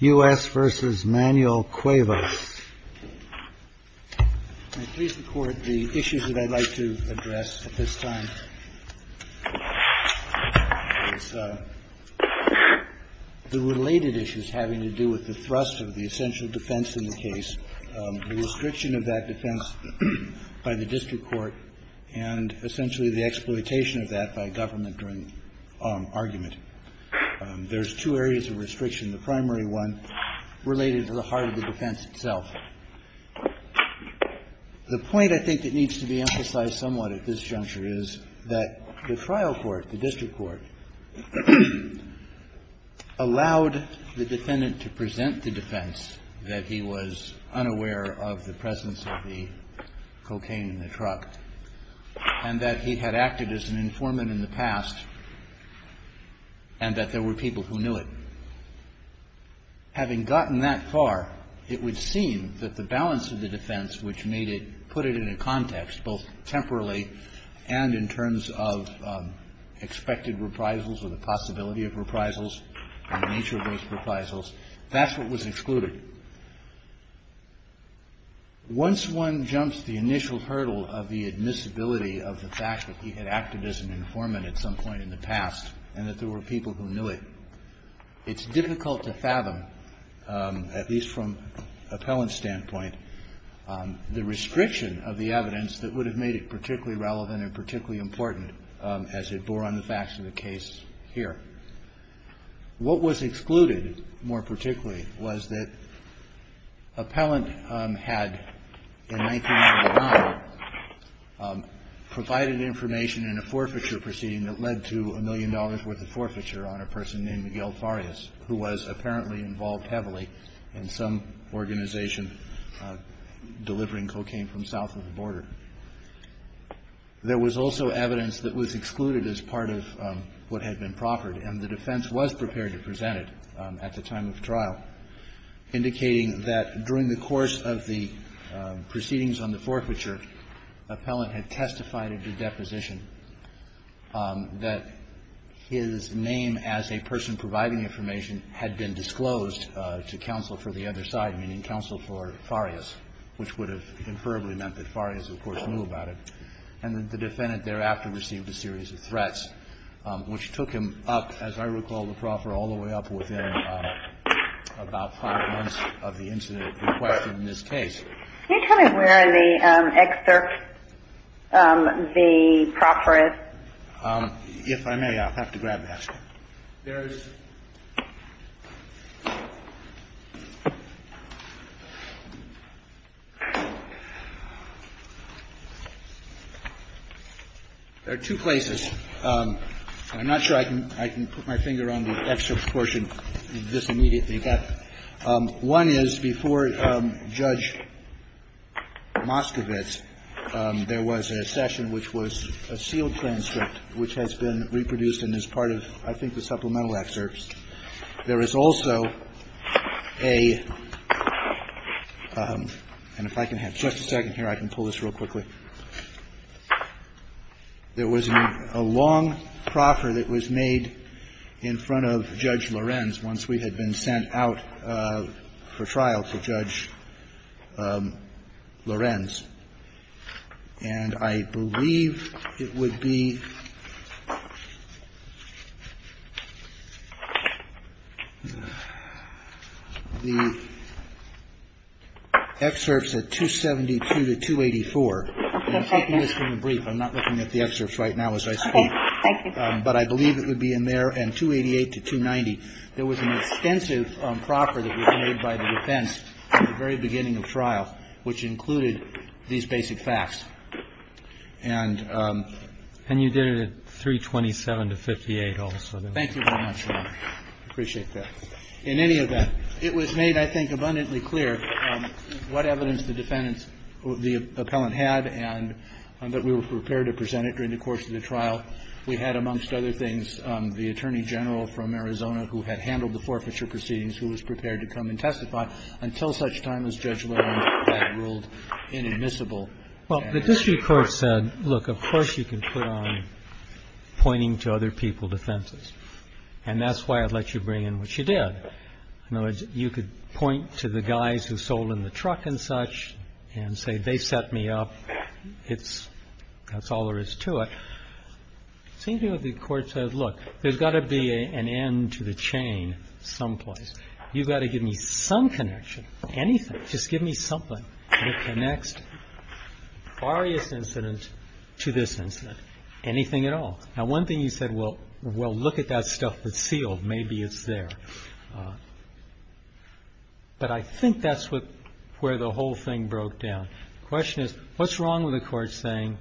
The issues that I'd like to address at this time are the related issues having to do with the thrust of the essential defense in the case, the restriction of that defense by the district court, and essentially the exploitation of that by government during argument. There's two areas of restriction, the primary one related to the heart of the defense itself. The point I think that needs to be emphasized somewhat at this juncture is that the trial court, the district court, allowed the defendant to present the defense that he was unaware of the presence of the cocaine in the truck and that he had acted as an informant in the past. And that there were people who knew it. Having gotten that far, it would seem that the balance of the defense which made it, put it in a context both temporarily and in terms of expected reprisals or the possibility of reprisals and the nature of those reprisals, that's what was excluded. Once one jumps the initial hurdle of the admissibility of the fact that he had acted as an informant at some point in the past and that there were people who knew it, it's difficult to fathom, at least from appellant's standpoint, the restriction of the evidence that would have made it particularly relevant and particularly important as it bore on the facts of the case here. What was excluded more particularly was that appellant had, in 1999, provided information in a forfeiture proceeding that led to a million dollars worth of forfeiture on a person named Miguel Farias who was apparently involved heavily in some organization delivering cocaine from south of the border. There was also evidence that was excluded as part of what had been proffered. And the defense was prepared to present it at the time of trial, indicating that during the course of the proceedings on the forfeiture, appellant had testified at the deposition that his name as a person providing information had been disclosed to counsel for the other side, meaning counsel for Farias, which would have inferably meant that Farias, of course, was not involved. He, of course, knew about it. And the defendant thereafter received a series of threats, which took him up, as I recall, the proffer all the way up within about five months of the incident requested in this case. Can you tell me where the excerpt, the proffer is? If I may, I'll have to grab that. There's two places. I'm not sure I can put my finger on the excerpt portion of this immediately. One is before Judge Moskowitz, there was a session which was a sealed transcript which has been reproduced and is part of, I think, the supplemental excerpts. There is also a – and if I can have just a second here, I can pull this real quickly. There was a long proffer that was made in front of Judge Lorenz once we had been sent out for trial to Judge Lorenz. And I believe it would be the excerpts at 272 to 284. I'm taking this from the brief. I'm not looking at the excerpts right now as I speak. Okay. Thank you. But I believe it would be in there. And 288 to 290. There was an extensive proffer that was made by the defense at the very beginning of trial, which included these basic facts. And you did it at 327 to 58 also. Thank you very much, Your Honor. I appreciate that. In any event, it was made, I think, abundantly clear what evidence the defendants – the appellant had and that we were prepared to present it during the course of the trial. We had, amongst other things, the attorney general from Arizona who had handled the forfeiture proceedings who was prepared to come and testify until such time as Judge Lorenz had ruled inadmissible. Well, the district court said, look, of course you can put on pointing to other people defenses. And that's why I'd let you bring in what you did. In other words, you could point to the guys who sold in the truck and such and say they set me up. It's – that's all there is to it. It seemed to me that the court said, look, there's got to be an end to the chain someplace. You've got to give me some connection, anything. Just give me something that connects various incidents to this incident, anything at all. Now, one thing you said, well, look at that stuff that's sealed. Maybe it's there. But I think that's where the whole thing broke down. The question is, what's wrong with the court saying,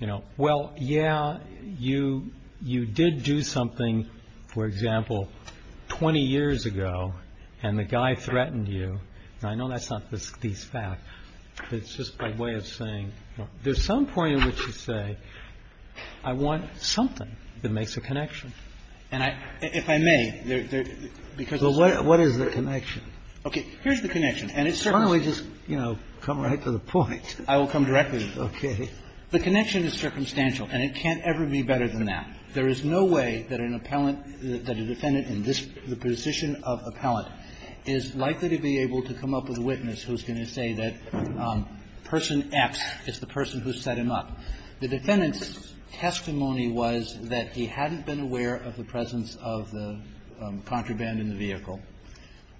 you know, well, yeah, you did do something, for example, 20 years ago, and the guy threatened you. Now, I know that's not the least bad. But it's just my way of saying, you know, there's some point at which you say, I want something that makes a connection. And I – if I may, there – there – because of this. Kennedy. So what is the connection? Carvin. Okay. Here's the connection. And it's certainly – Why don't we just, you know, come right to the point? Carvin. I will come directly. Kennedy. Okay. Carvin. The connection is circumstantial, and it can't ever be better than that. There is no way that an appellant, that a defendant in this – the position of appellant is likely to be able to come up with a witness who's going to say that person X is the person who set him up. The defendant's testimony was that he hadn't been aware of the presence of the contraband in the vehicle,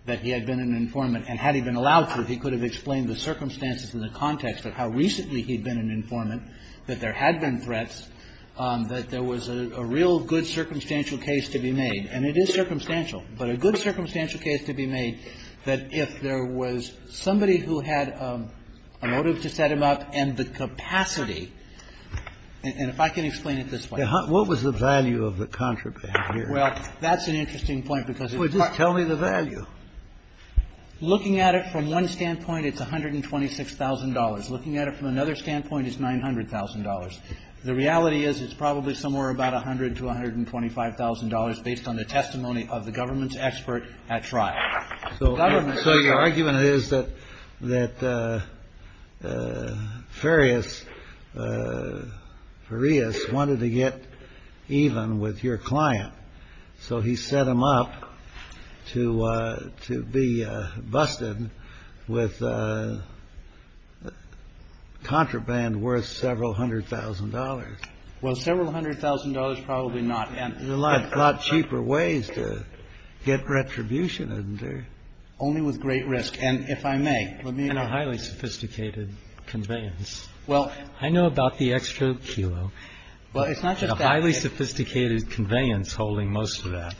that he had been an informant. And had he been allowed to, he could have explained the circumstances and the context of how recently he'd been an informant, that there had been threats, that there was a real good circumstantial case to be made. And it is circumstantial. But a good circumstantial case to be made that if there was somebody who had a motive to set him up and the capacity – and if I can explain it this way. What was the value of the contraband here? Well, that's an interesting point because it's not – Well, just tell me the value. Looking at it from one standpoint, it's $126,000. Looking at it from another standpoint, it's $900,000. The reality is it's probably somewhere about $100,000 to $125,000 based on the testimony of the government's expert at trial. So your argument is that Farias wanted to get even with your client, So he set him up to be busted with contraband worth several hundred thousand dollars. Well, several hundred thousand dollars, probably not. There's a lot cheaper ways to get retribution, isn't there? Only with great risk. And if I may, let me know. And a highly sophisticated conveyance. Well, I know about the extra kilo. Well, it's not just that. A highly sophisticated conveyance holding most of that.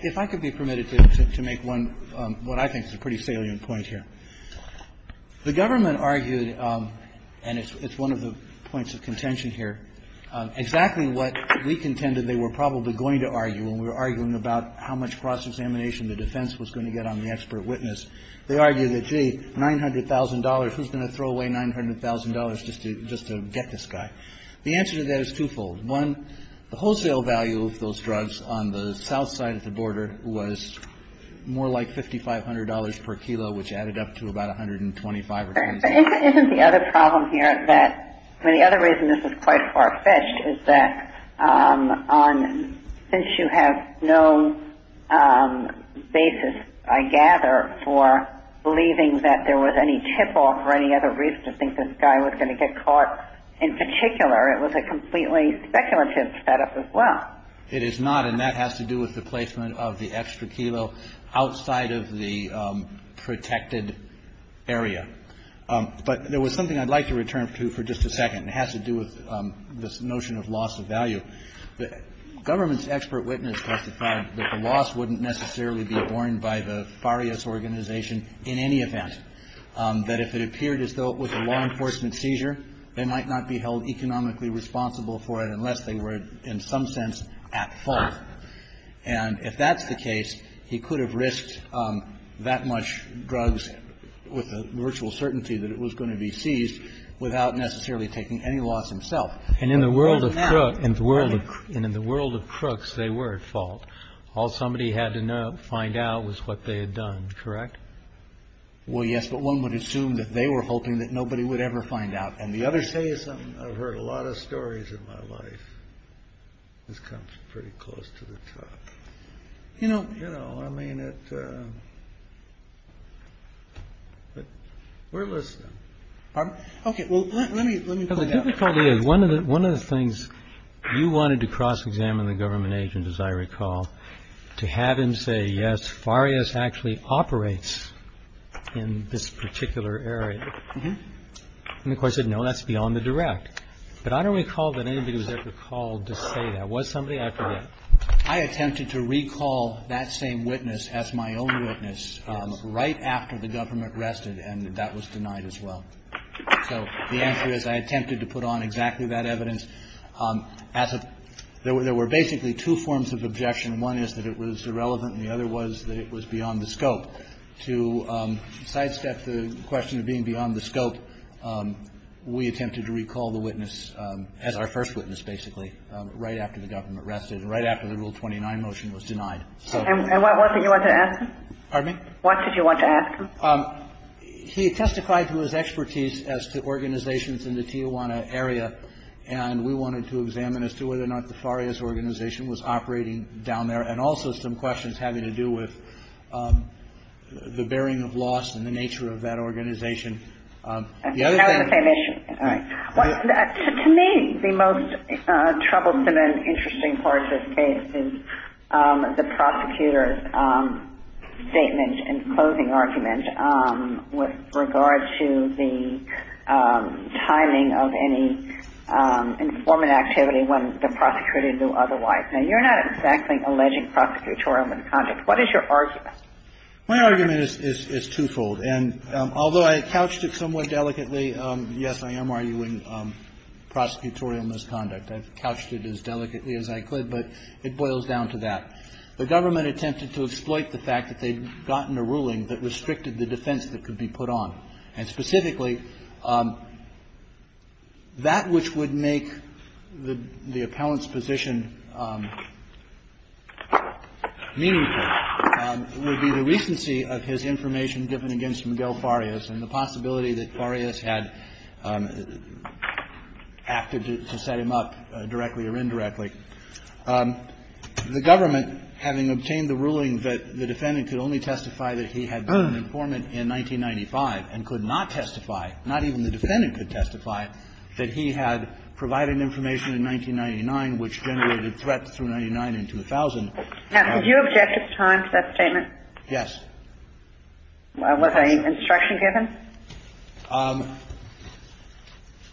If I could be permitted to make one, what I think is a pretty salient point here. The government argued, and it's one of the points of contention here, exactly what we contended they were probably going to argue when we were arguing about how much cross-examination the defense was going to get on the expert witness. They argued that, gee, $900,000. Who's going to throw away $900,000 just to get this guy? The answer to that is twofold. One, the wholesale value of those drugs on the south side of the border was more like $5,500 per kilo, which added up to about $125. Isn't the other problem here that the other reason this is quite far-fetched is that since you have no basis, I gather, for believing that there was any tip-off or any other reason to think this guy was going to get caught, in particular, it was a completely speculative setup as well. It is not. And that has to do with the placement of the extra kilo outside of the protected area. But there was something I'd like to return to for just a second. It has to do with this notion of loss of value. The government's expert witness testified that the loss wouldn't necessarily be borne by the FARIAS organization in any event, that if it appeared as though it was a law enforcement seizure, they might not be held economically responsible for it unless they were, in some sense, at fault. And if that's the case, he could have risked that much drugs with a virtual certainty that it was going to be seized without necessarily taking any loss himself. And in the world of crooks, they were at fault. All somebody had to find out was what they had done, correct? Well, yes. But one would assume that they were hoping that nobody would ever find out. And the other says, I've heard a lot of stories in my life. This comes pretty close to the top. You know, you know, I mean, we're listening. OK, well, let me let me. The difficulty is one of the one of the things you wanted to cross examine the government agents, as I recall, to have him say, yes, FARIAS actually operates in this particular area. And of course, you know, that's beyond the direct. But I don't recall that anybody was ever called to say that was somebody. I attempted to recall that same witness as my own witness right after the government arrested. And that was denied as well. So the answer is I attempted to put on exactly that evidence. There were basically two forms of objection. One is that it was irrelevant. The other was that it was beyond the scope. To sidestep the question of being beyond the scope, we attempted to recall the witness as our first witness, basically, right after the government arrested and right after the Rule 29 motion was denied. And what did you want to ask him? Pardon me? What did you want to ask him? He testified to his expertise as to organizations in the Tijuana area. And we wanted to examine as to whether or not the FARIAS organization was operating down there and also some questions having to do with the bearing of loss and the nature of that organization. The other thing — That was the same issue. All right. To me, the most troublesome and interesting part of this case is the prosecutor's statement and closing argument with regard to the timing of any informant activity when the prosecutor knew otherwise. Now, you're not exactly alleging prosecutorial misconduct. What is your argument? My argument is twofold. And although I couched it somewhat delicately, yes, I am arguing prosecutorial misconduct. I've couched it as delicately as I could, but it boils down to that. The government attempted to exploit the fact that they'd gotten a ruling that restricted the defense that could be put on. And specifically, that which would make the appellant's position meaningful would be the recency of his information given against Miguel FARIAS and the possibility that FARIAS had acted to set him up directly or indirectly. The government, having obtained the ruling that the defendant could only testify that he had been an informant in 1995 and could not testify, not even the defendant could testify, that he had provided information in 1999 which generated threats But the fact that the defendant had testified in 1999 and had not testified through 1999 and 2000. Now, did you object at the time to that statement? Yes. Was an instruction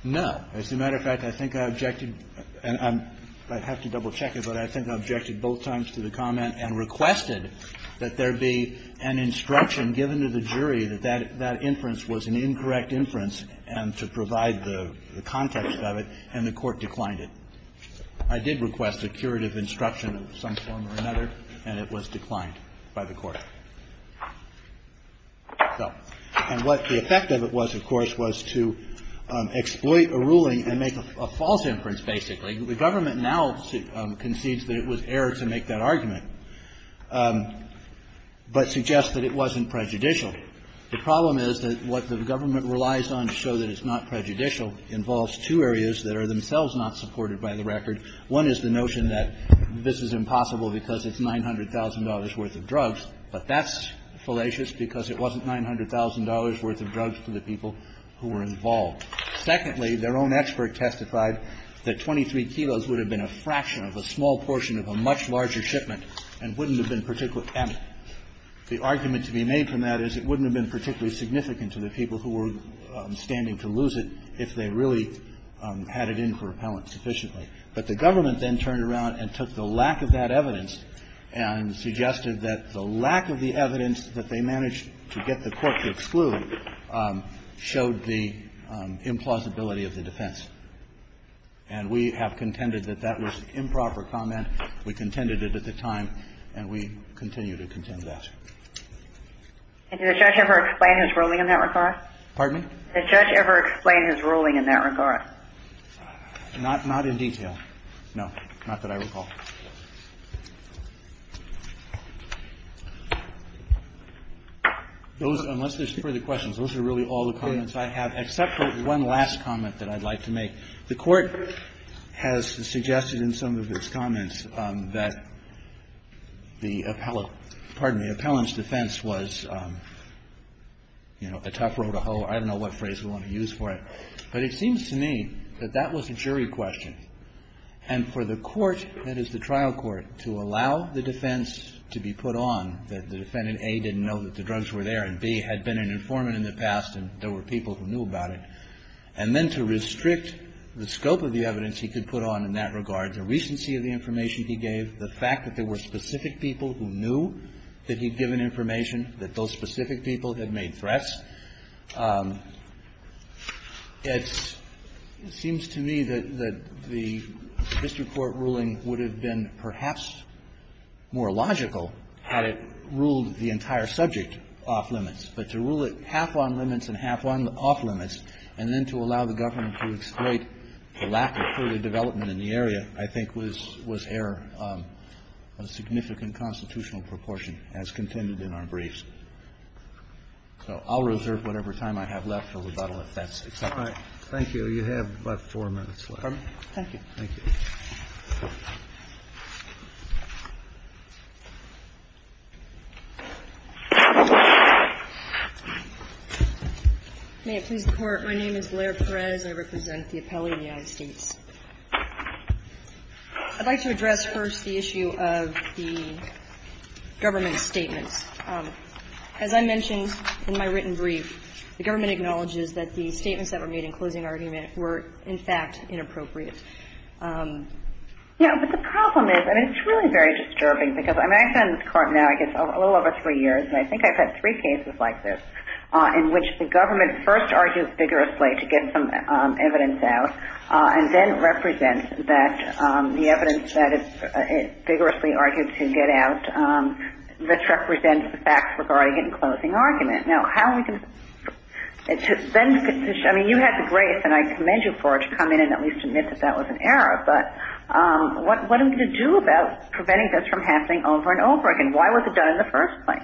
given? No. As a matter of fact, I think I objected. I have to double-check it. But I think I objected both times to the comment and requested that there be an instruction given to the jury that that inference was an incorrect inference and to provide the context of it, and the Court declined it. I did request a curative instruction of some form or another, and it was declined by the Court. And what the effect of it was, of course, was to exploit a ruling and make a false inference, basically. The government now concedes that it was error to make that argument, but suggests that it wasn't prejudicial. The problem is that what the government relies on to show that it's not prejudicial involves two areas that are themselves not supported by the record. One is the notion that this is impossible because it's $900,000 worth of drugs, but that's fallacious because it wasn't $900,000 worth of drugs to the people who were involved. Secondly, their own expert testified that 23 kilos would have been a fraction of a small portion of a much larger shipment and wouldn't have been particularly amicable. The argument to be made from that is it wouldn't have been particularly significant to the people who were standing to lose it if they really had it in for repellent sufficiently. But the government then turned around and took the lack of that evidence and suggested that the lack of the evidence that they managed to get the Court to exclude showed the implausibility of the defense. And we have contended that that was improper comment. We contended it at the time, and we continue to contend that. And did the judge ever explain his ruling in that regard? Pardon me? Did the judge ever explain his ruling in that regard? Not in detail. No. Not that I recall. Those, unless there's further questions, those are really all the comments I have, except for one last comment that I'd like to make. The Court has suggested in some of its comments that the appellant's defense was, you know, a tough road to hoe. I don't know what phrase we want to use for it. But it seems to me that that was a jury question. And for the Court, that is the trial court, to allow the defense to be put on that the defendant, A, didn't know that the drugs were there, and B, had been an informant in the past and there were people who knew about it. And then to restrict the scope of the evidence he could put on in that regard, the recency of the information he gave, the fact that there were specific people who knew that he'd given information, that those specific people had made threats. It seems to me that the district court ruling would have been perhaps more logical had it ruled the entire subject off-limits. But to rule it half on-limits and half off-limits, and then to allow the government to exploit the lack of further development in the area, I think was error on a significant constitutional proportion, as contended in our briefs. So I'll reserve whatever time I have left for rebuttal, if that's acceptable. Kennedy. Thank you. You have about four minutes left. Thank you. Thank you. May it please the Court. My name is Blair Perez. I represent the appellee in the United States. I'd like to address first the issue of the government's statements. As I mentioned in my written brief, the government acknowledges that the statements that were made in closing argument were in fact inappropriate. Yeah, but the problem is, and it's really very disturbing, because I've been in this court now, I guess, a little over three years, and I think I've had three cases like this, in which the government first argues vigorously to get some evidence out, and then represents that the evidence that it vigorously argued to get out, which represents the facts regarding it in closing argument. Now, how are we going to – I mean, you had the grace, and I commend you for it, but what are we going to do about preventing this from happening over and over again? Why was it done in the first place?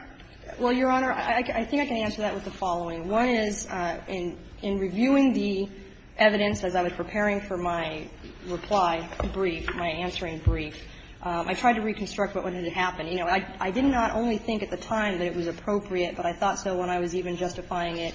Well, Your Honor, I think I can answer that with the following. One is, in reviewing the evidence as I was preparing for my reply brief, my answering brief, I tried to reconstruct what had happened. You know, I did not only think at the time that it was appropriate, but I thought so when I was even justifying it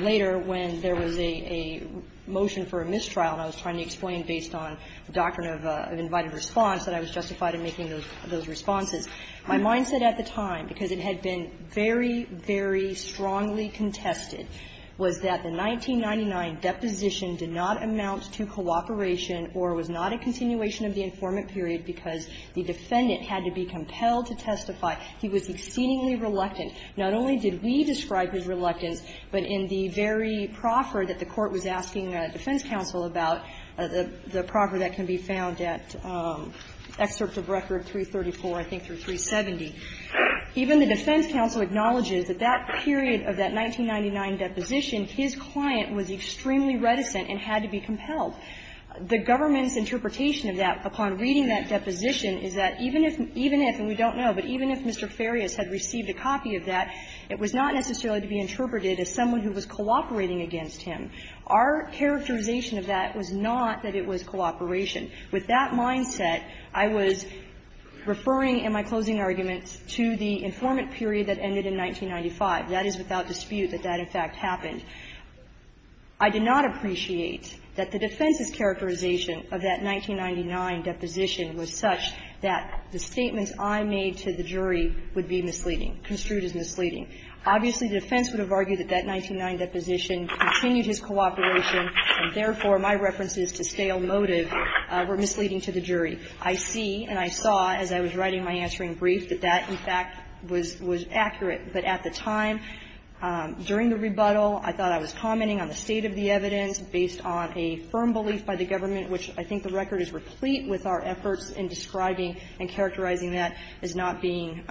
later when there was a motion for a mistrial trial and I was trying to explain based on the doctrine of invited response that I was justified in making those responses. My mindset at the time, because it had been very, very strongly contested, was that the 1999 deposition did not amount to cooperation or was not a continuation of the informant period because the defendant had to be compelled to testify. He was exceedingly reluctant. Not only did we describe his reluctance, but in the very proffer that the Court was asking defense counsel about, the proffer that can be found at excerpt of Record 334, I think, or 370, even the defense counsel acknowledges that that period of that 1999 deposition, his client was extremely reticent and had to be compelled. The government's interpretation of that upon reading that deposition is that even if we don't know, but even if Mr. Farias had received a copy of that, it was not necessarily going to be interpreted as someone who was cooperating against him. Our characterization of that was not that it was cooperation. With that mindset, I was referring in my closing arguments to the informant period that ended in 1995. That is without dispute that that, in fact, happened. I did not appreciate that the defense's characterization of that 1999 deposition was such that the statements I made to the jury would be misleading, construed as misleading. Obviously, the defense would have argued that that 1999 deposition continued his cooperation, and therefore, my references to stale motive were misleading to the jury. I see and I saw, as I was writing my answering brief, that that, in fact, was accurate. But at the time, during the rebuttal, I thought I was commenting on the state of the evidence based on a firm belief by the government, which I think the record is replete with our efforts in describing and characterizing that as not being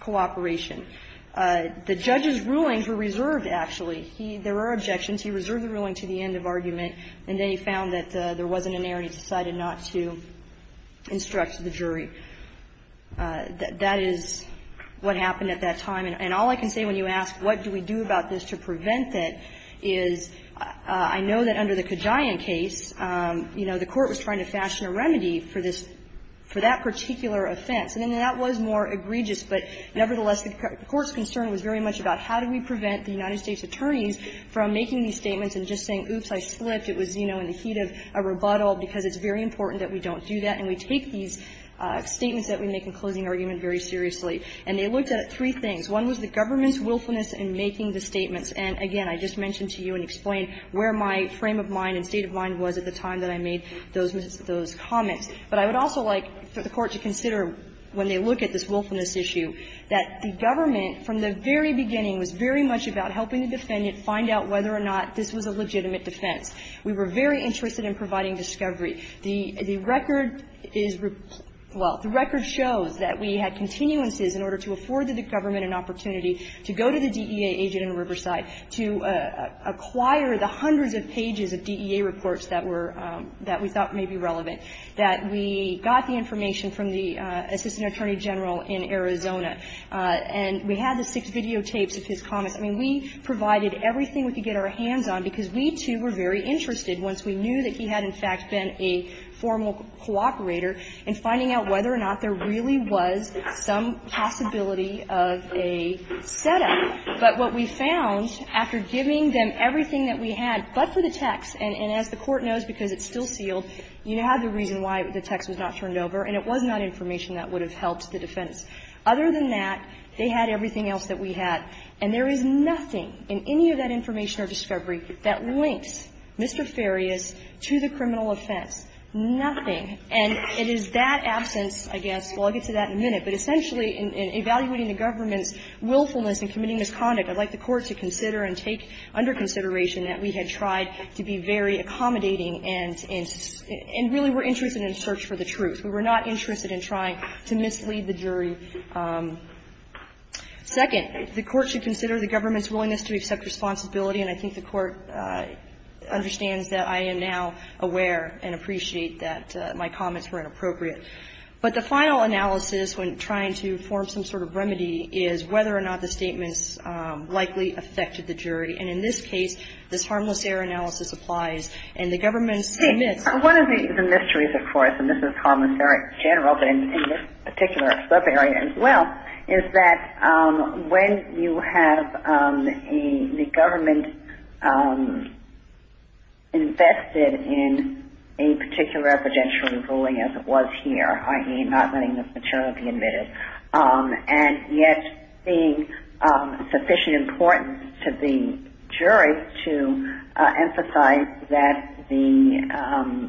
cooperation. The judge's rulings were reserved, actually. He – there were objections. He reserved the ruling to the end of argument, and then he found that there wasn't an error, and he decided not to instruct the jury. That is what happened at that time. And all I can say when you ask, what do we do about this to prevent it, is I know that under the Kajian case, you know, the court was trying to fashion a remedy for this – for that particular offense. And that was more egregious, but nevertheless, the court's concern was very much about how do we prevent the United States attorneys from making these statements and just saying, oops, I slipped. It was, you know, in the heat of a rebuttal, because it's very important that we don't do that. And we take these statements that we make in closing argument very seriously. And they looked at three things. One was the government's willfulness in making the statements. And again, I just mentioned to you and explained where my frame of mind and state of mind was at the time that I made those comments. But I would also like for the Court to consider, when they look at this willfulness issue, that the government, from the very beginning, was very much about helping the defendant find out whether or not this was a legitimate defense. We were very interested in providing discovery. The record is – well, the record shows that we had continuances in order to afford the government an opportunity to go to the DEA agent in Riverside to acquire the hundreds of pages of DEA reports that were – that we thought may be relevant. That we got the information from the assistant attorney general in Arizona. And we had the six videotapes of his comments. I mean, we provided everything we could get our hands on, because we, too, were very interested, once we knew that he had, in fact, been a formal cooperator, in finding out whether or not there really was some possibility of a setup. But what we found, after giving them everything that we had, but for the text – and as the Court knows, because it's still sealed, you have the reason why the text was not turned over, and it was not information that would have helped the defense. Other than that, they had everything else that we had. And there is nothing in any of that information or discovery that links Mr. Farias to the criminal offense. Nothing. And it is that absence, I guess – well, I'll get to that in a minute. But essentially, in evaluating the government's willfulness in committing misconduct, I'd like the Court to consider and take under consideration that we had tried to be very accommodating and really were interested in a search for the truth. We were not interested in trying to mislead the jury. Second, the Court should consider the government's willingness to accept responsibility. And I think the Court understands that I am now aware and appreciate that my comments were inappropriate. But the final analysis, when trying to form some sort of remedy, is whether or not the statements likely affected the jury. And in this case, this harmless error analysis applies. And the government submits – One of the mysteries, of course, and this is harmless error in general, but in this particular subarea as well, is that when you have the government invested in a particular evidentiary ruling as it was here, i.e., not letting the paternal be admitted, and yet being of sufficient importance to the jury to emphasize that the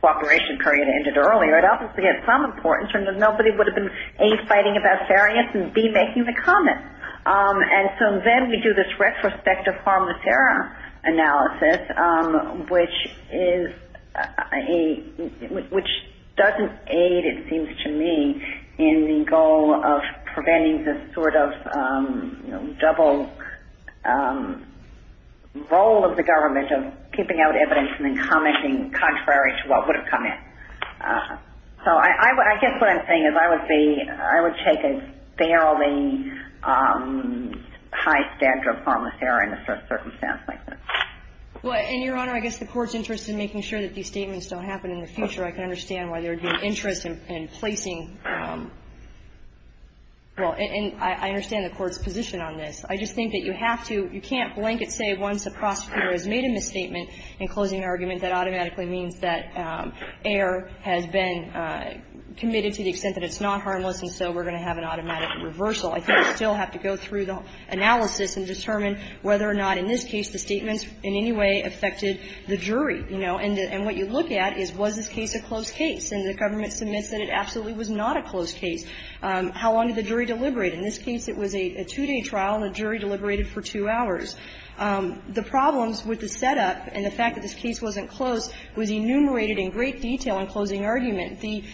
cooperation period ended earlier. It obviously has some importance in that nobody would have been, A, fighting about fairness and, B, making the comments. And so then we do this retrospective harmless error analysis, which doesn't aid, it seems to me, in the goal of preventing this sort of double role of the government of keeping out evidence and then commenting contrary to what would have come in. So I guess what I'm saying is I would be – I would take a fairly high standard of harmless error in a circumstance like this. Well, and, Your Honor, I guess the Court's interest in making sure that these statements don't happen in the future, I can understand why there would be an interest in placing – well, and I understand the Court's position on this. I just think that you have to – you can't blanket say once a prosecutor has made a misstatement in closing an argument, that automatically means that error has been committed to the extent that it's not harmless, and so we're going to have an automatic reversal. I think you still have to go through the analysis and determine whether or not in this case the statements in any way affected the jury, you know. And what you look at is, was this case a closed case? And the government submits that it absolutely was not a closed case. How long did the jury deliberate? In this case, it was a two-day trial, and the jury deliberated for two hours. The problems with the setup and the fact that this case wasn't closed was enumerated in great detail in closing argument. The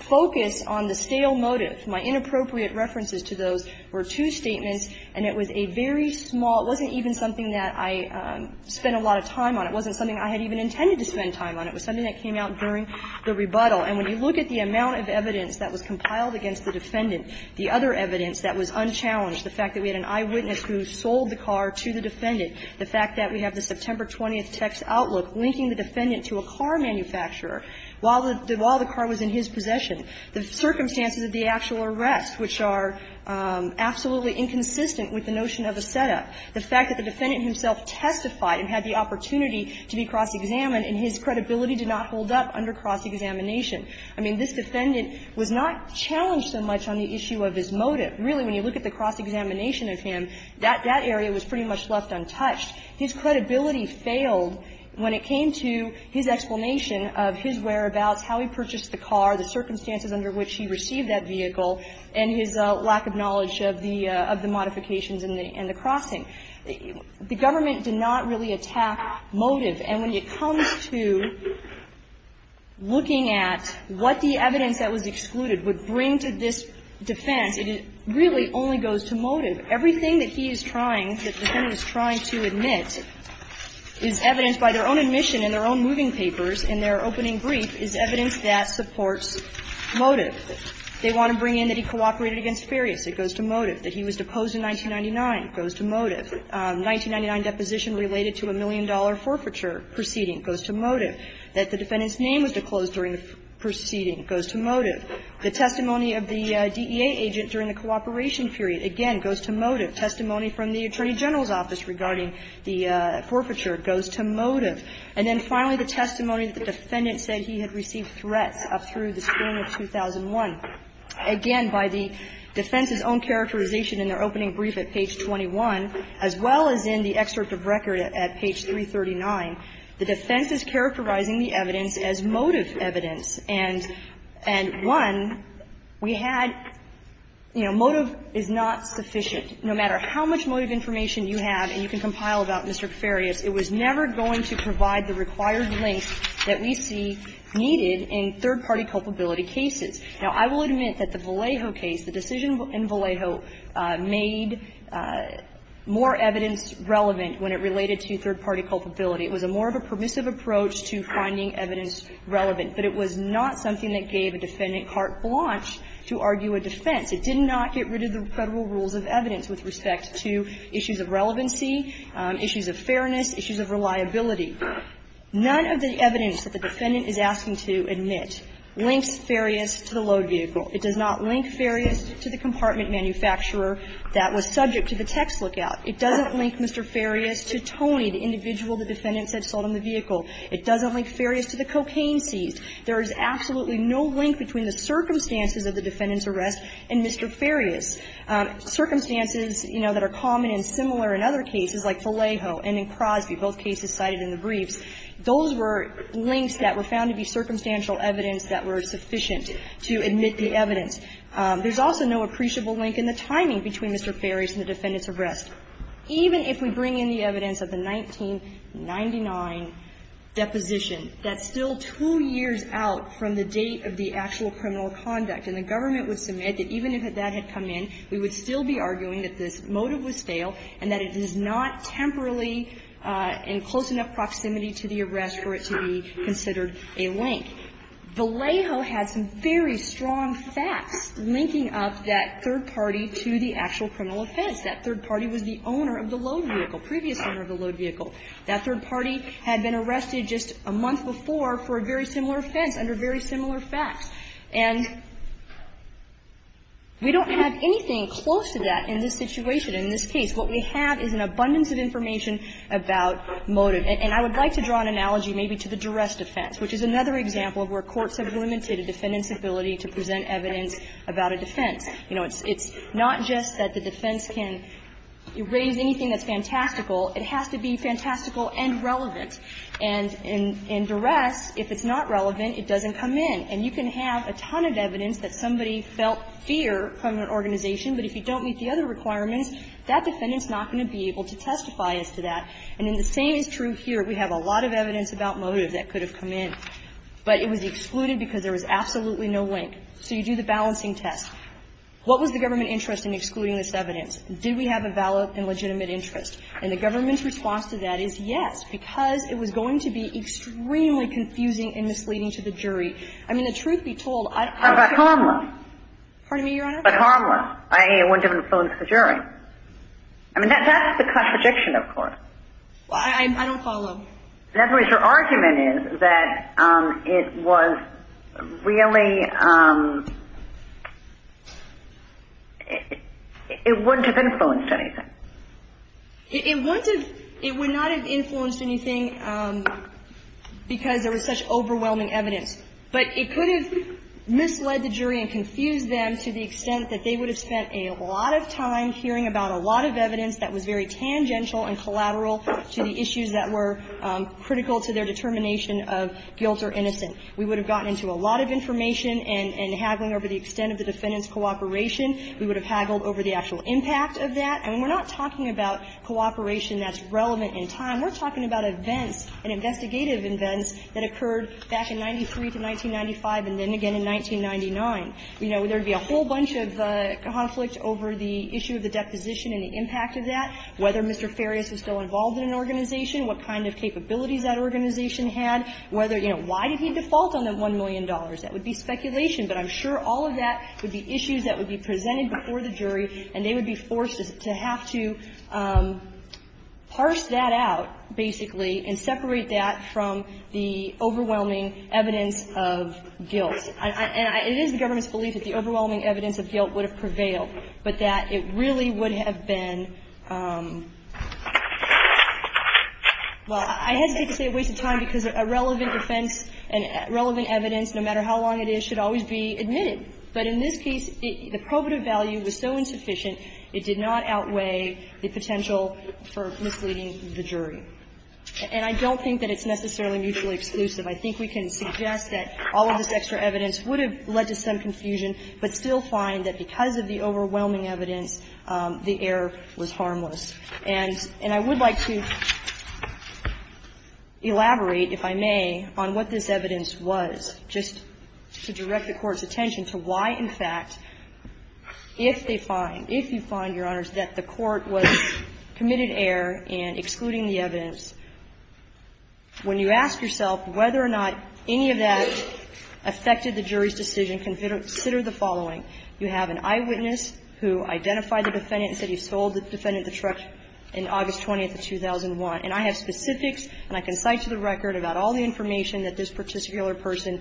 focus on the stale motive, my inappropriate references to those, were two statements, and it was a very small – it wasn't even something that I spent a lot of time on. It wasn't something I had even intended to spend time on. It was something that came out during the rebuttal. And when you look at the amount of evidence that was compiled against the defendant, the other evidence that was unchallenged, the fact that we had an eyewitness who sold the car to the defendant, the fact that we have the September 20th text outlook linking the defendant to a car manufacturer while the car was in his possession, the circumstances of the actual arrest, which are absolutely inconsistent with the notion of a setup, the fact that the defendant himself testified and had the opportunity to be cross-examined, and his credibility did not hold up under cross-examination, I mean, this defendant was not challenged so much on the issue of his motive. But really, when you look at the cross-examination of him, that area was pretty much left untouched. His credibility failed when it came to his explanation of his whereabouts, how he purchased the car, the circumstances under which he received that vehicle, and his lack of knowledge of the modifications in the crossing. The government did not really attack motive. And when it comes to looking at what the evidence that was excluded would bring to this defense, it really only goes to motive. Everything that he is trying, that the defendant is trying to admit is evidenced by their own admission in their own moving papers in their opening brief is evidence that supports motive. They want to bring in that he cooperated against Ferrius. It goes to motive. That he was deposed in 1999 goes to motive. The 1999 deposition related to a million-dollar forfeiture proceeding goes to motive. That the defendant's name was disclosed during the proceeding goes to motive. The testimony of the DEA agent during the cooperation period, again, goes to motive. Testimony from the Attorney General's office regarding the forfeiture goes to motive. And then finally, the testimony that the defendant said he had received threats up through the spring of 2001. Again, by the defense's own characterization in their opening brief at page 21, as well as in the excerpt of record at page 339, the defense is characterizing the evidence as motive evidence. And one, we had, you know, motive is not sufficient. No matter how much motive information you have and you can compile about Mr. Ferrius, it was never going to provide the required links that we see needed in third-party culpability cases. Now, I will admit that the Vallejo case, the decision in Vallejo made more evidence relevant when it related to third-party culpability. It was a more of a permissive approach to finding evidence relevant. But it was not something that gave a defendant carte blanche to argue a defense. It did not get rid of the Federal rules of evidence with respect to issues of relevancy, issues of fairness, issues of reliability. None of the evidence that the defendant is asking to admit links Ferrius to the load vehicle. It does not link Ferrius to the compartment manufacturer that was subject to the text lookout. It doesn't link Mr. Ferrius to Tony, the individual the defendant said sold him the vehicle. It doesn't link Ferrius to the cocaine seized. There is absolutely no link between the circumstances of the defendant's arrest and Mr. Ferrius. Circumstances, you know, that are common and similar in other cases, like Vallejo and in Crosby, both cases cited in the briefs, those were links that were found to be circumstantial evidence that were sufficient to admit the evidence. There's also no appreciable link in the timing between Mr. Ferrius and the defendant's arrest. Even if we bring in the evidence of the 1999 deposition, that's still two years out from the date of the actual criminal conduct. And the government would submit that even if that had come in, we would still be arguing that this motive was fail and that it is not temporarily in close enough proximity to the arrest for it to be considered a link. Vallejo has some very strong facts linking up that third party to the actual criminal offense. That third party was the owner of the load vehicle, previous owner of the load vehicle. That third party had been arrested just a month before for a very similar offense under very similar facts. And we don't have anything close to that in this situation, in this case. What we have is an abundance of information about motive. And I would like to draw an analogy maybe to the duress defense, which is another example of where courts have limited a defendant's ability to present evidence about a defense. You know, it's not just that the defense can raise anything that's fantastical. It has to be fantastical and relevant. And in duress, if it's not relevant, it doesn't come in. And you can have a ton of evidence that somebody felt fear from an organization, but if you don't meet the other requirements, that defendant's not going to be able to testify as to that. And the same is true here. We have a lot of evidence about motive that could have come in, but it was excluded because there was absolutely no link. So you do the balancing test. What was the government interest in excluding this evidence? Did we have a valid and legitimate interest? And the government's response to that is yes, because it was going to be extremely confusing and misleading to the jury. I mean, the truth be told, I don't think that's true. But harmless. Pardon me, Your Honor? But harmless, i.e., it wouldn't have been a problem to the jury. I mean, that's the contradiction, of course. I don't follow. In other words, your argument is that it was really – it wouldn't have influenced anything. It wouldn't have – it would not have influenced anything because there was such overwhelming evidence. But it could have misled the jury and confused them to the extent that they would have spent a lot of time hearing about a lot of evidence that was very tangential and collateral to the issues that were critical to their determination of guilt or innocent. We would have gotten into a lot of information and haggling over the extent of the defendant's cooperation. We would have haggled over the actual impact of that. And we're not talking about cooperation that's relevant in time. We're talking about events and investigative events that occurred back in 93 to 1995 and then again in 1999. You know, there would be a whole bunch of conflict over the issue of the deposition and the impact of that. Whether Mr. Farias was still involved in an organization, what kind of capabilities that organization had, whether – you know, why did he default on that $1 million? That would be speculation. But I'm sure all of that would be issues that would be presented before the jury, and they would be forced to have to parse that out, basically, and separate that from the overwhelming evidence of guilt. And it is the government's belief that the overwhelming evidence of guilt would prevail, but that it really would have been, well, I hesitate to say a waste of time because a relevant defense and relevant evidence, no matter how long it is, should always be admitted. But in this case, the probative value was so insufficient, it did not outweigh the potential for misleading the jury. And I don't think that it's necessarily mutually exclusive. I think we can suggest that all of this extra evidence would have led to some confusion, but still find that because of the overwhelming evidence, the error was harmless. And I would like to elaborate, if I may, on what this evidence was, just to direct the Court's attention to why, in fact, if they find, if you find, Your Honors, that the Court was committed error in excluding the evidence, when you ask yourself whether or not any of that affected the jury's decision, consider the jury's decision to exclude the evidence. It's the jury's decision to exclude the evidence. And so we have the following. You have an eyewitness who identified the defendant and said he sold the defendant the truck on August 20th of 2001. And I have specifics, and I can cite to the record about all the information that this particular person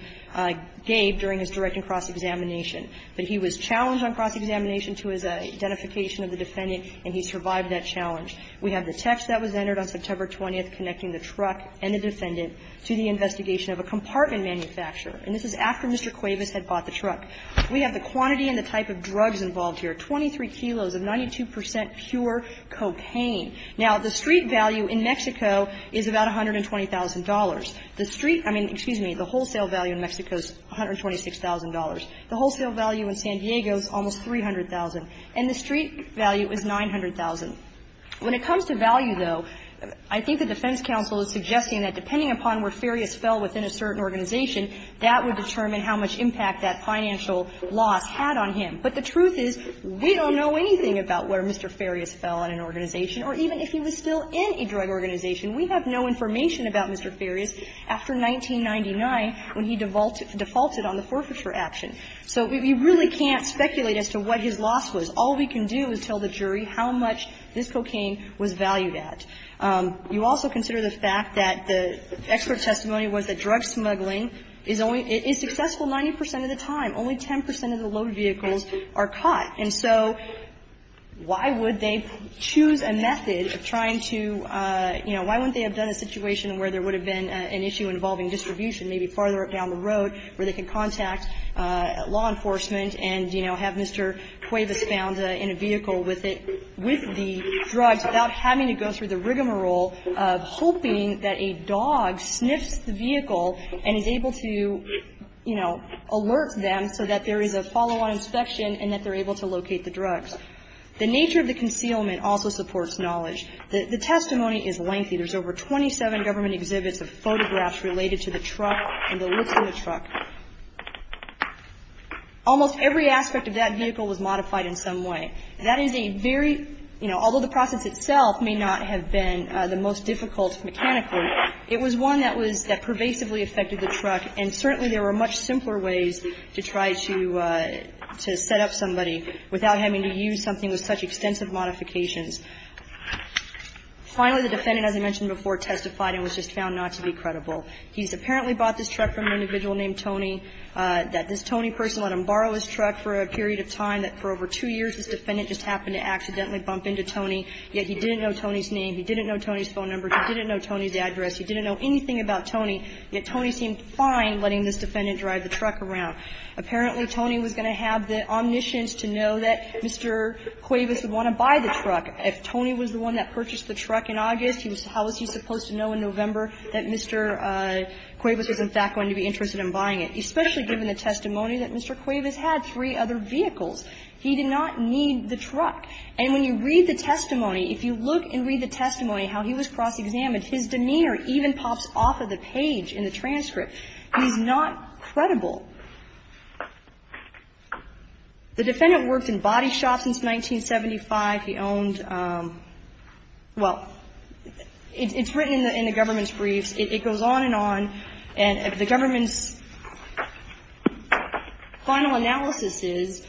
gave during his direct and cross-examination. But he was challenged on cross-examination to his identification of the defendant, and he survived that challenge. We have the text that was entered on September 20th connecting the truck and the defendant to the investigation of a compartment manufacturer, and this is after Mr. Cuevas had bought the truck. We have the quantity and the type of drugs involved here, 23 kilos of 92 percent pure cocaine. Now, the street value in Mexico is about $120,000. The street, I mean, excuse me, the wholesale value in Mexico is $126,000. The wholesale value in San Diego is almost $300,000. And the street value is $900,000. When it comes to value, though, I think the defense counsel is suggesting that depending upon where Farias fell within a certain organization, that would determine how much impact that financial loss had on him. But the truth is, we don't know anything about where Mr. Farias fell in an organization, or even if he was still in a drug organization. We have no information about Mr. Farias after 1999 when he defaulted on the forfeiture action. So we really can't speculate as to what his loss was. All we can do is tell the jury how much this cocaine was valued at. You also consider the fact that the expert testimony was that drug smuggling is only – is successful 90 percent of the time. Only 10 percent of the load vehicles are caught. And so why would they choose a method of trying to, you know, why wouldn't they have done a situation where there would have been an issue involving distribution maybe farther down the road where they can contact law enforcement and, you know, have Mr. Cuevas found in a vehicle with it – with the drugs without having to go through the rigmarole of hoping that a dog sniffs the vehicle and is able to, you know, alert them so that there is a follow-on inspection and that they're able to locate the drugs. The nature of the concealment also supports knowledge. The testimony is lengthy. There's over 27 government exhibits of photographs related to the truck and the looks of the truck. Almost every aspect of that vehicle was modified in some way. That is a very – you know, although the process itself may not have been the most difficult mechanically, it was one that was – that pervasively affected the truck, and certainly there were much simpler ways to try to set up somebody without having to use something with such extensive modifications. Finally, the defendant, as I mentioned before, testified and was just found not to be credible. He's apparently bought this truck from an individual named Tony, that this Tony person let him borrow his truck for a period of time, that for over two years this defendant just happened to accidentally bump into Tony, yet he didn't know Tony's name, he didn't know Tony's phone number, he didn't know Tony's address, he didn't know anything about Tony, yet Tony seemed fine letting this defendant drive the truck around. Apparently, Tony was going to have the omniscience to know that Mr. Cuevas would want to buy the truck. If Tony was the one that purchased the truck in August, how was he supposed to know in November that Mr. Cuevas was in fact going to be interested in buying it, especially given the testimony that Mr. Cuevas had three other vehicles? He did not need the truck. And when you read the testimony, if you look and read the testimony, how he was cross-examined, his demeanor even pops off of the page in the transcript. He's not credible. The defendant worked in body shops since 1975. He owned, well, it's written in the government's briefs. It goes on and on. And the government's final analysis is,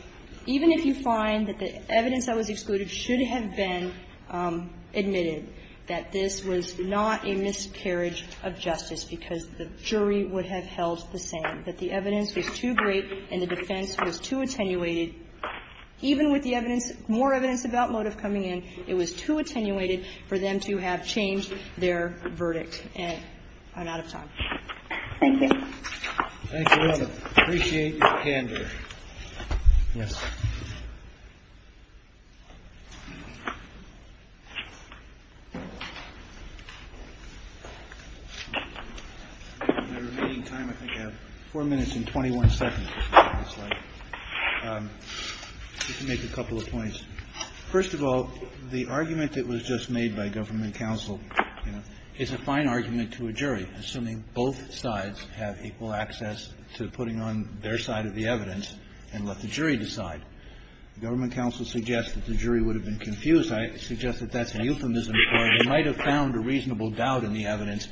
even if you find that the evidence that was excluded should have been admitted, that this was not a miscarriage of justice, because the jury would have held the same. But the evidence was too great and the defense was too attenuated. Even with the evidence, more evidence about motive coming in, it was too attenuated for them to have changed their verdict. And I'm out of time. Thank you. Thank you all. Appreciate your candor. Yes, sir. My remaining time, I think, I have 4 minutes and 21 seconds. Just to make a couple of points. First of all, the argument that was just made by government counsel is a fine argument to a jury, assuming both sides have equal access to putting on their side of the evidence and let the jury decide. Government counsel suggests that the jury would have been confused on whether or not to have any evidence, and I suggest that that's a euphemism for they might have found a reasonable doubt in the evidence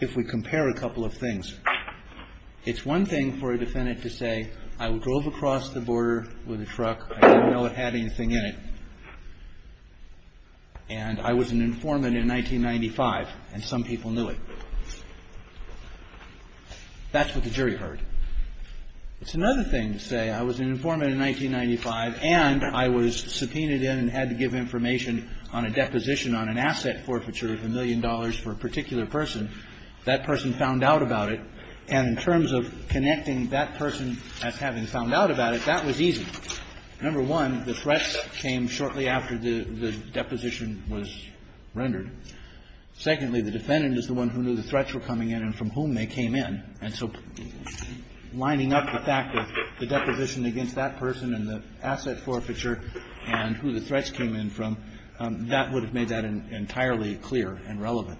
if we compare a couple of things. It's one thing for a defendant to say, I drove across the border with a truck. I didn't know it had anything in it. And I was an informant in 1995, and some people knew it. That's what the jury heard. It's another thing to say, I was an informant in 1995 and I was subpoenaed in and had to give information on a deposition on an asset forfeiture of a million dollars for a particular person. That person found out about it. And in terms of connecting that person as having found out about it, that was easy. Number one, the threats came shortly after the deposition was rendered. Secondly, the defendant is the one who knew the threats were coming in and from whom they came in. And so lining up the fact that the deposition against that person and the asset forfeiture and who the threats came in from, that would have made that entirely clear and relevant.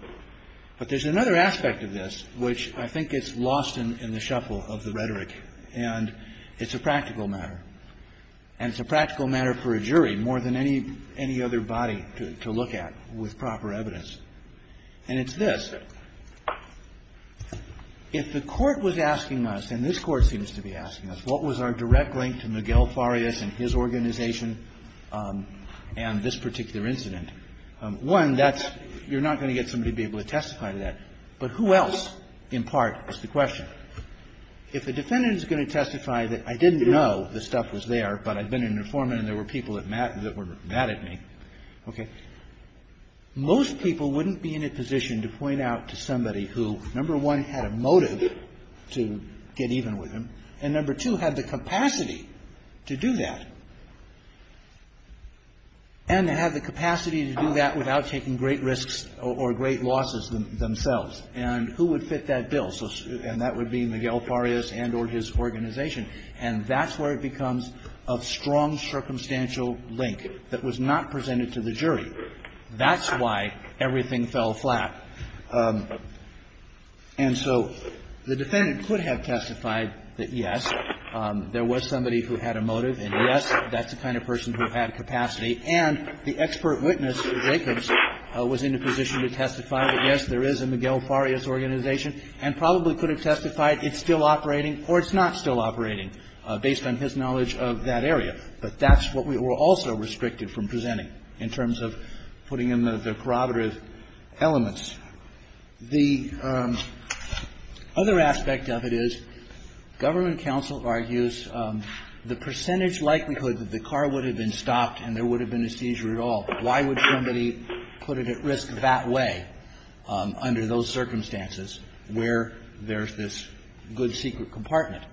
But there's another aspect of this which I think is lost in the shuffle of the rhetoric. And it's a practical matter. And it's a practical matter for a jury more than any other body to look at with proper evidence. And it's this. If the Court was asking us, and this Court seems to be asking us, what was our direct link to Miguel Farias and his organization and this particular incident? One, that's you're not going to get somebody to be able to testify to that. But who else, in part, is the question? If the defendant is going to testify that I didn't know the stuff was there, but I've been an informant and there were people that were mad at me, okay, most people wouldn't be in a position to point out to somebody who, number one, had a motive to get even with him, and number two, had the capacity to do that, and to have the capacity to do that without taking great risks or great losses themselves. And who would fit that bill? And that would be Miguel Farias and or his organization. And that's where it becomes a strong circumstantial link that was not presented to the jury. That's why everything fell flat. And so the defendant could have testified that, yes, there was somebody who had a motive and, yes, that's the kind of person who had capacity, and the expert witness, Jacobs, was in a position to testify that, yes, there is a Miguel Farias organization and probably could have testified it's still operating or it's not still operating based on his knowledge of that area. But that's what we were also restricted from presenting in terms of putting in the prerogative elements. The other aspect of it is government counsel argues the percentage likelihood that the car would have been stopped and there would have been a seizure at all. Why would somebody put it at risk that way under those circumstances where there's this good secret compartment?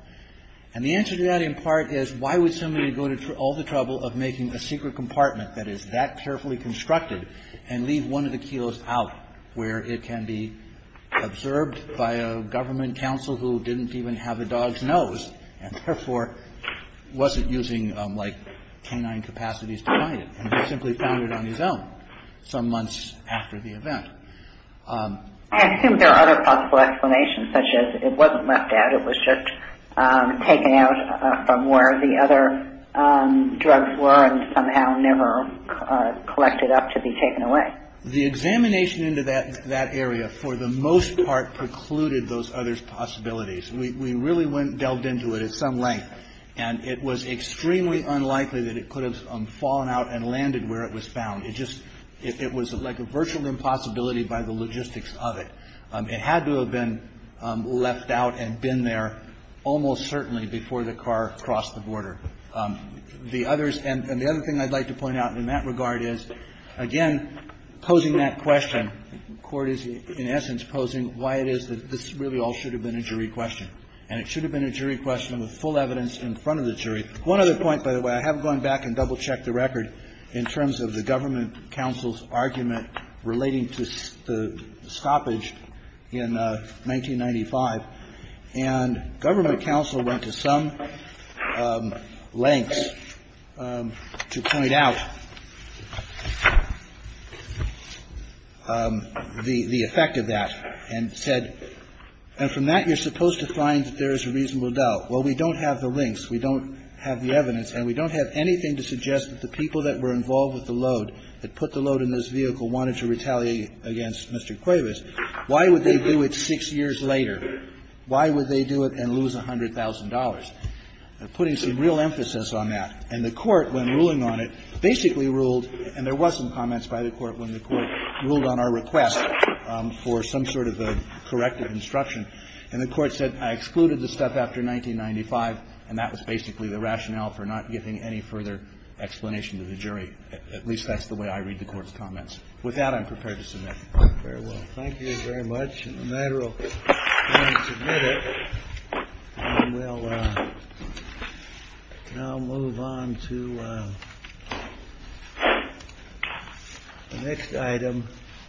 And the answer to that, in part, is why would somebody go to all the trouble of making a secret compartment that is that carefully constructed and leave one of the kilos out where it can be observed by a government counsel who didn't even have a dog's nose and, therefore, wasn't using, like, canine capacities to find it and simply found it on his own some months after the event? I assume there are other possible explanations such as it wasn't left out. It was just taken out from where the other drugs were and somehow never collected up to be taken away. The examination into that area, for the most part, precluded those other possibilities. We really went and delved into it at some length. And it was extremely unlikely that it could have fallen out and landed where it was found. It just, it was like a virtual impossibility by the logistics of it. It had to have been left out and been there almost certainly before the car crossed the border. The others, and the other thing I'd like to point out in that regard is, again, posing that question, the Court is, in essence, posing why it is that this really all should have been a jury question. And it should have been a jury question with full evidence in front of the jury. One other point, by the way, I have gone back and double-checked the record in terms of the government counsel's argument relating to the stoppage in 1995. And government counsel went to some lengths to point out the effect of that and said, and from that you're supposed to find that there is a reasonable doubt. Well, we don't have the links, we don't have the evidence, and we don't have anything to suggest that the people that were involved with the load, that put the load in this vehicle, wanted to retaliate against Mr. Cuevas. Why would they do it six years later? Why would they do it and lose $100,000? Putting some real emphasis on that. And the Court, when ruling on it, basically ruled, and there was some comments by the Court when the Court ruled on our request for some sort of a corrective instruction, and the Court said, I excluded the stuff after 1995, and that was basically the rationale for not giving any further explanation to the jury. At least that's the way I read the Court's comments. With that, I'm prepared to submit. Very well. Thank you very much. And the matter will be submitted, and we'll now move on to the next item.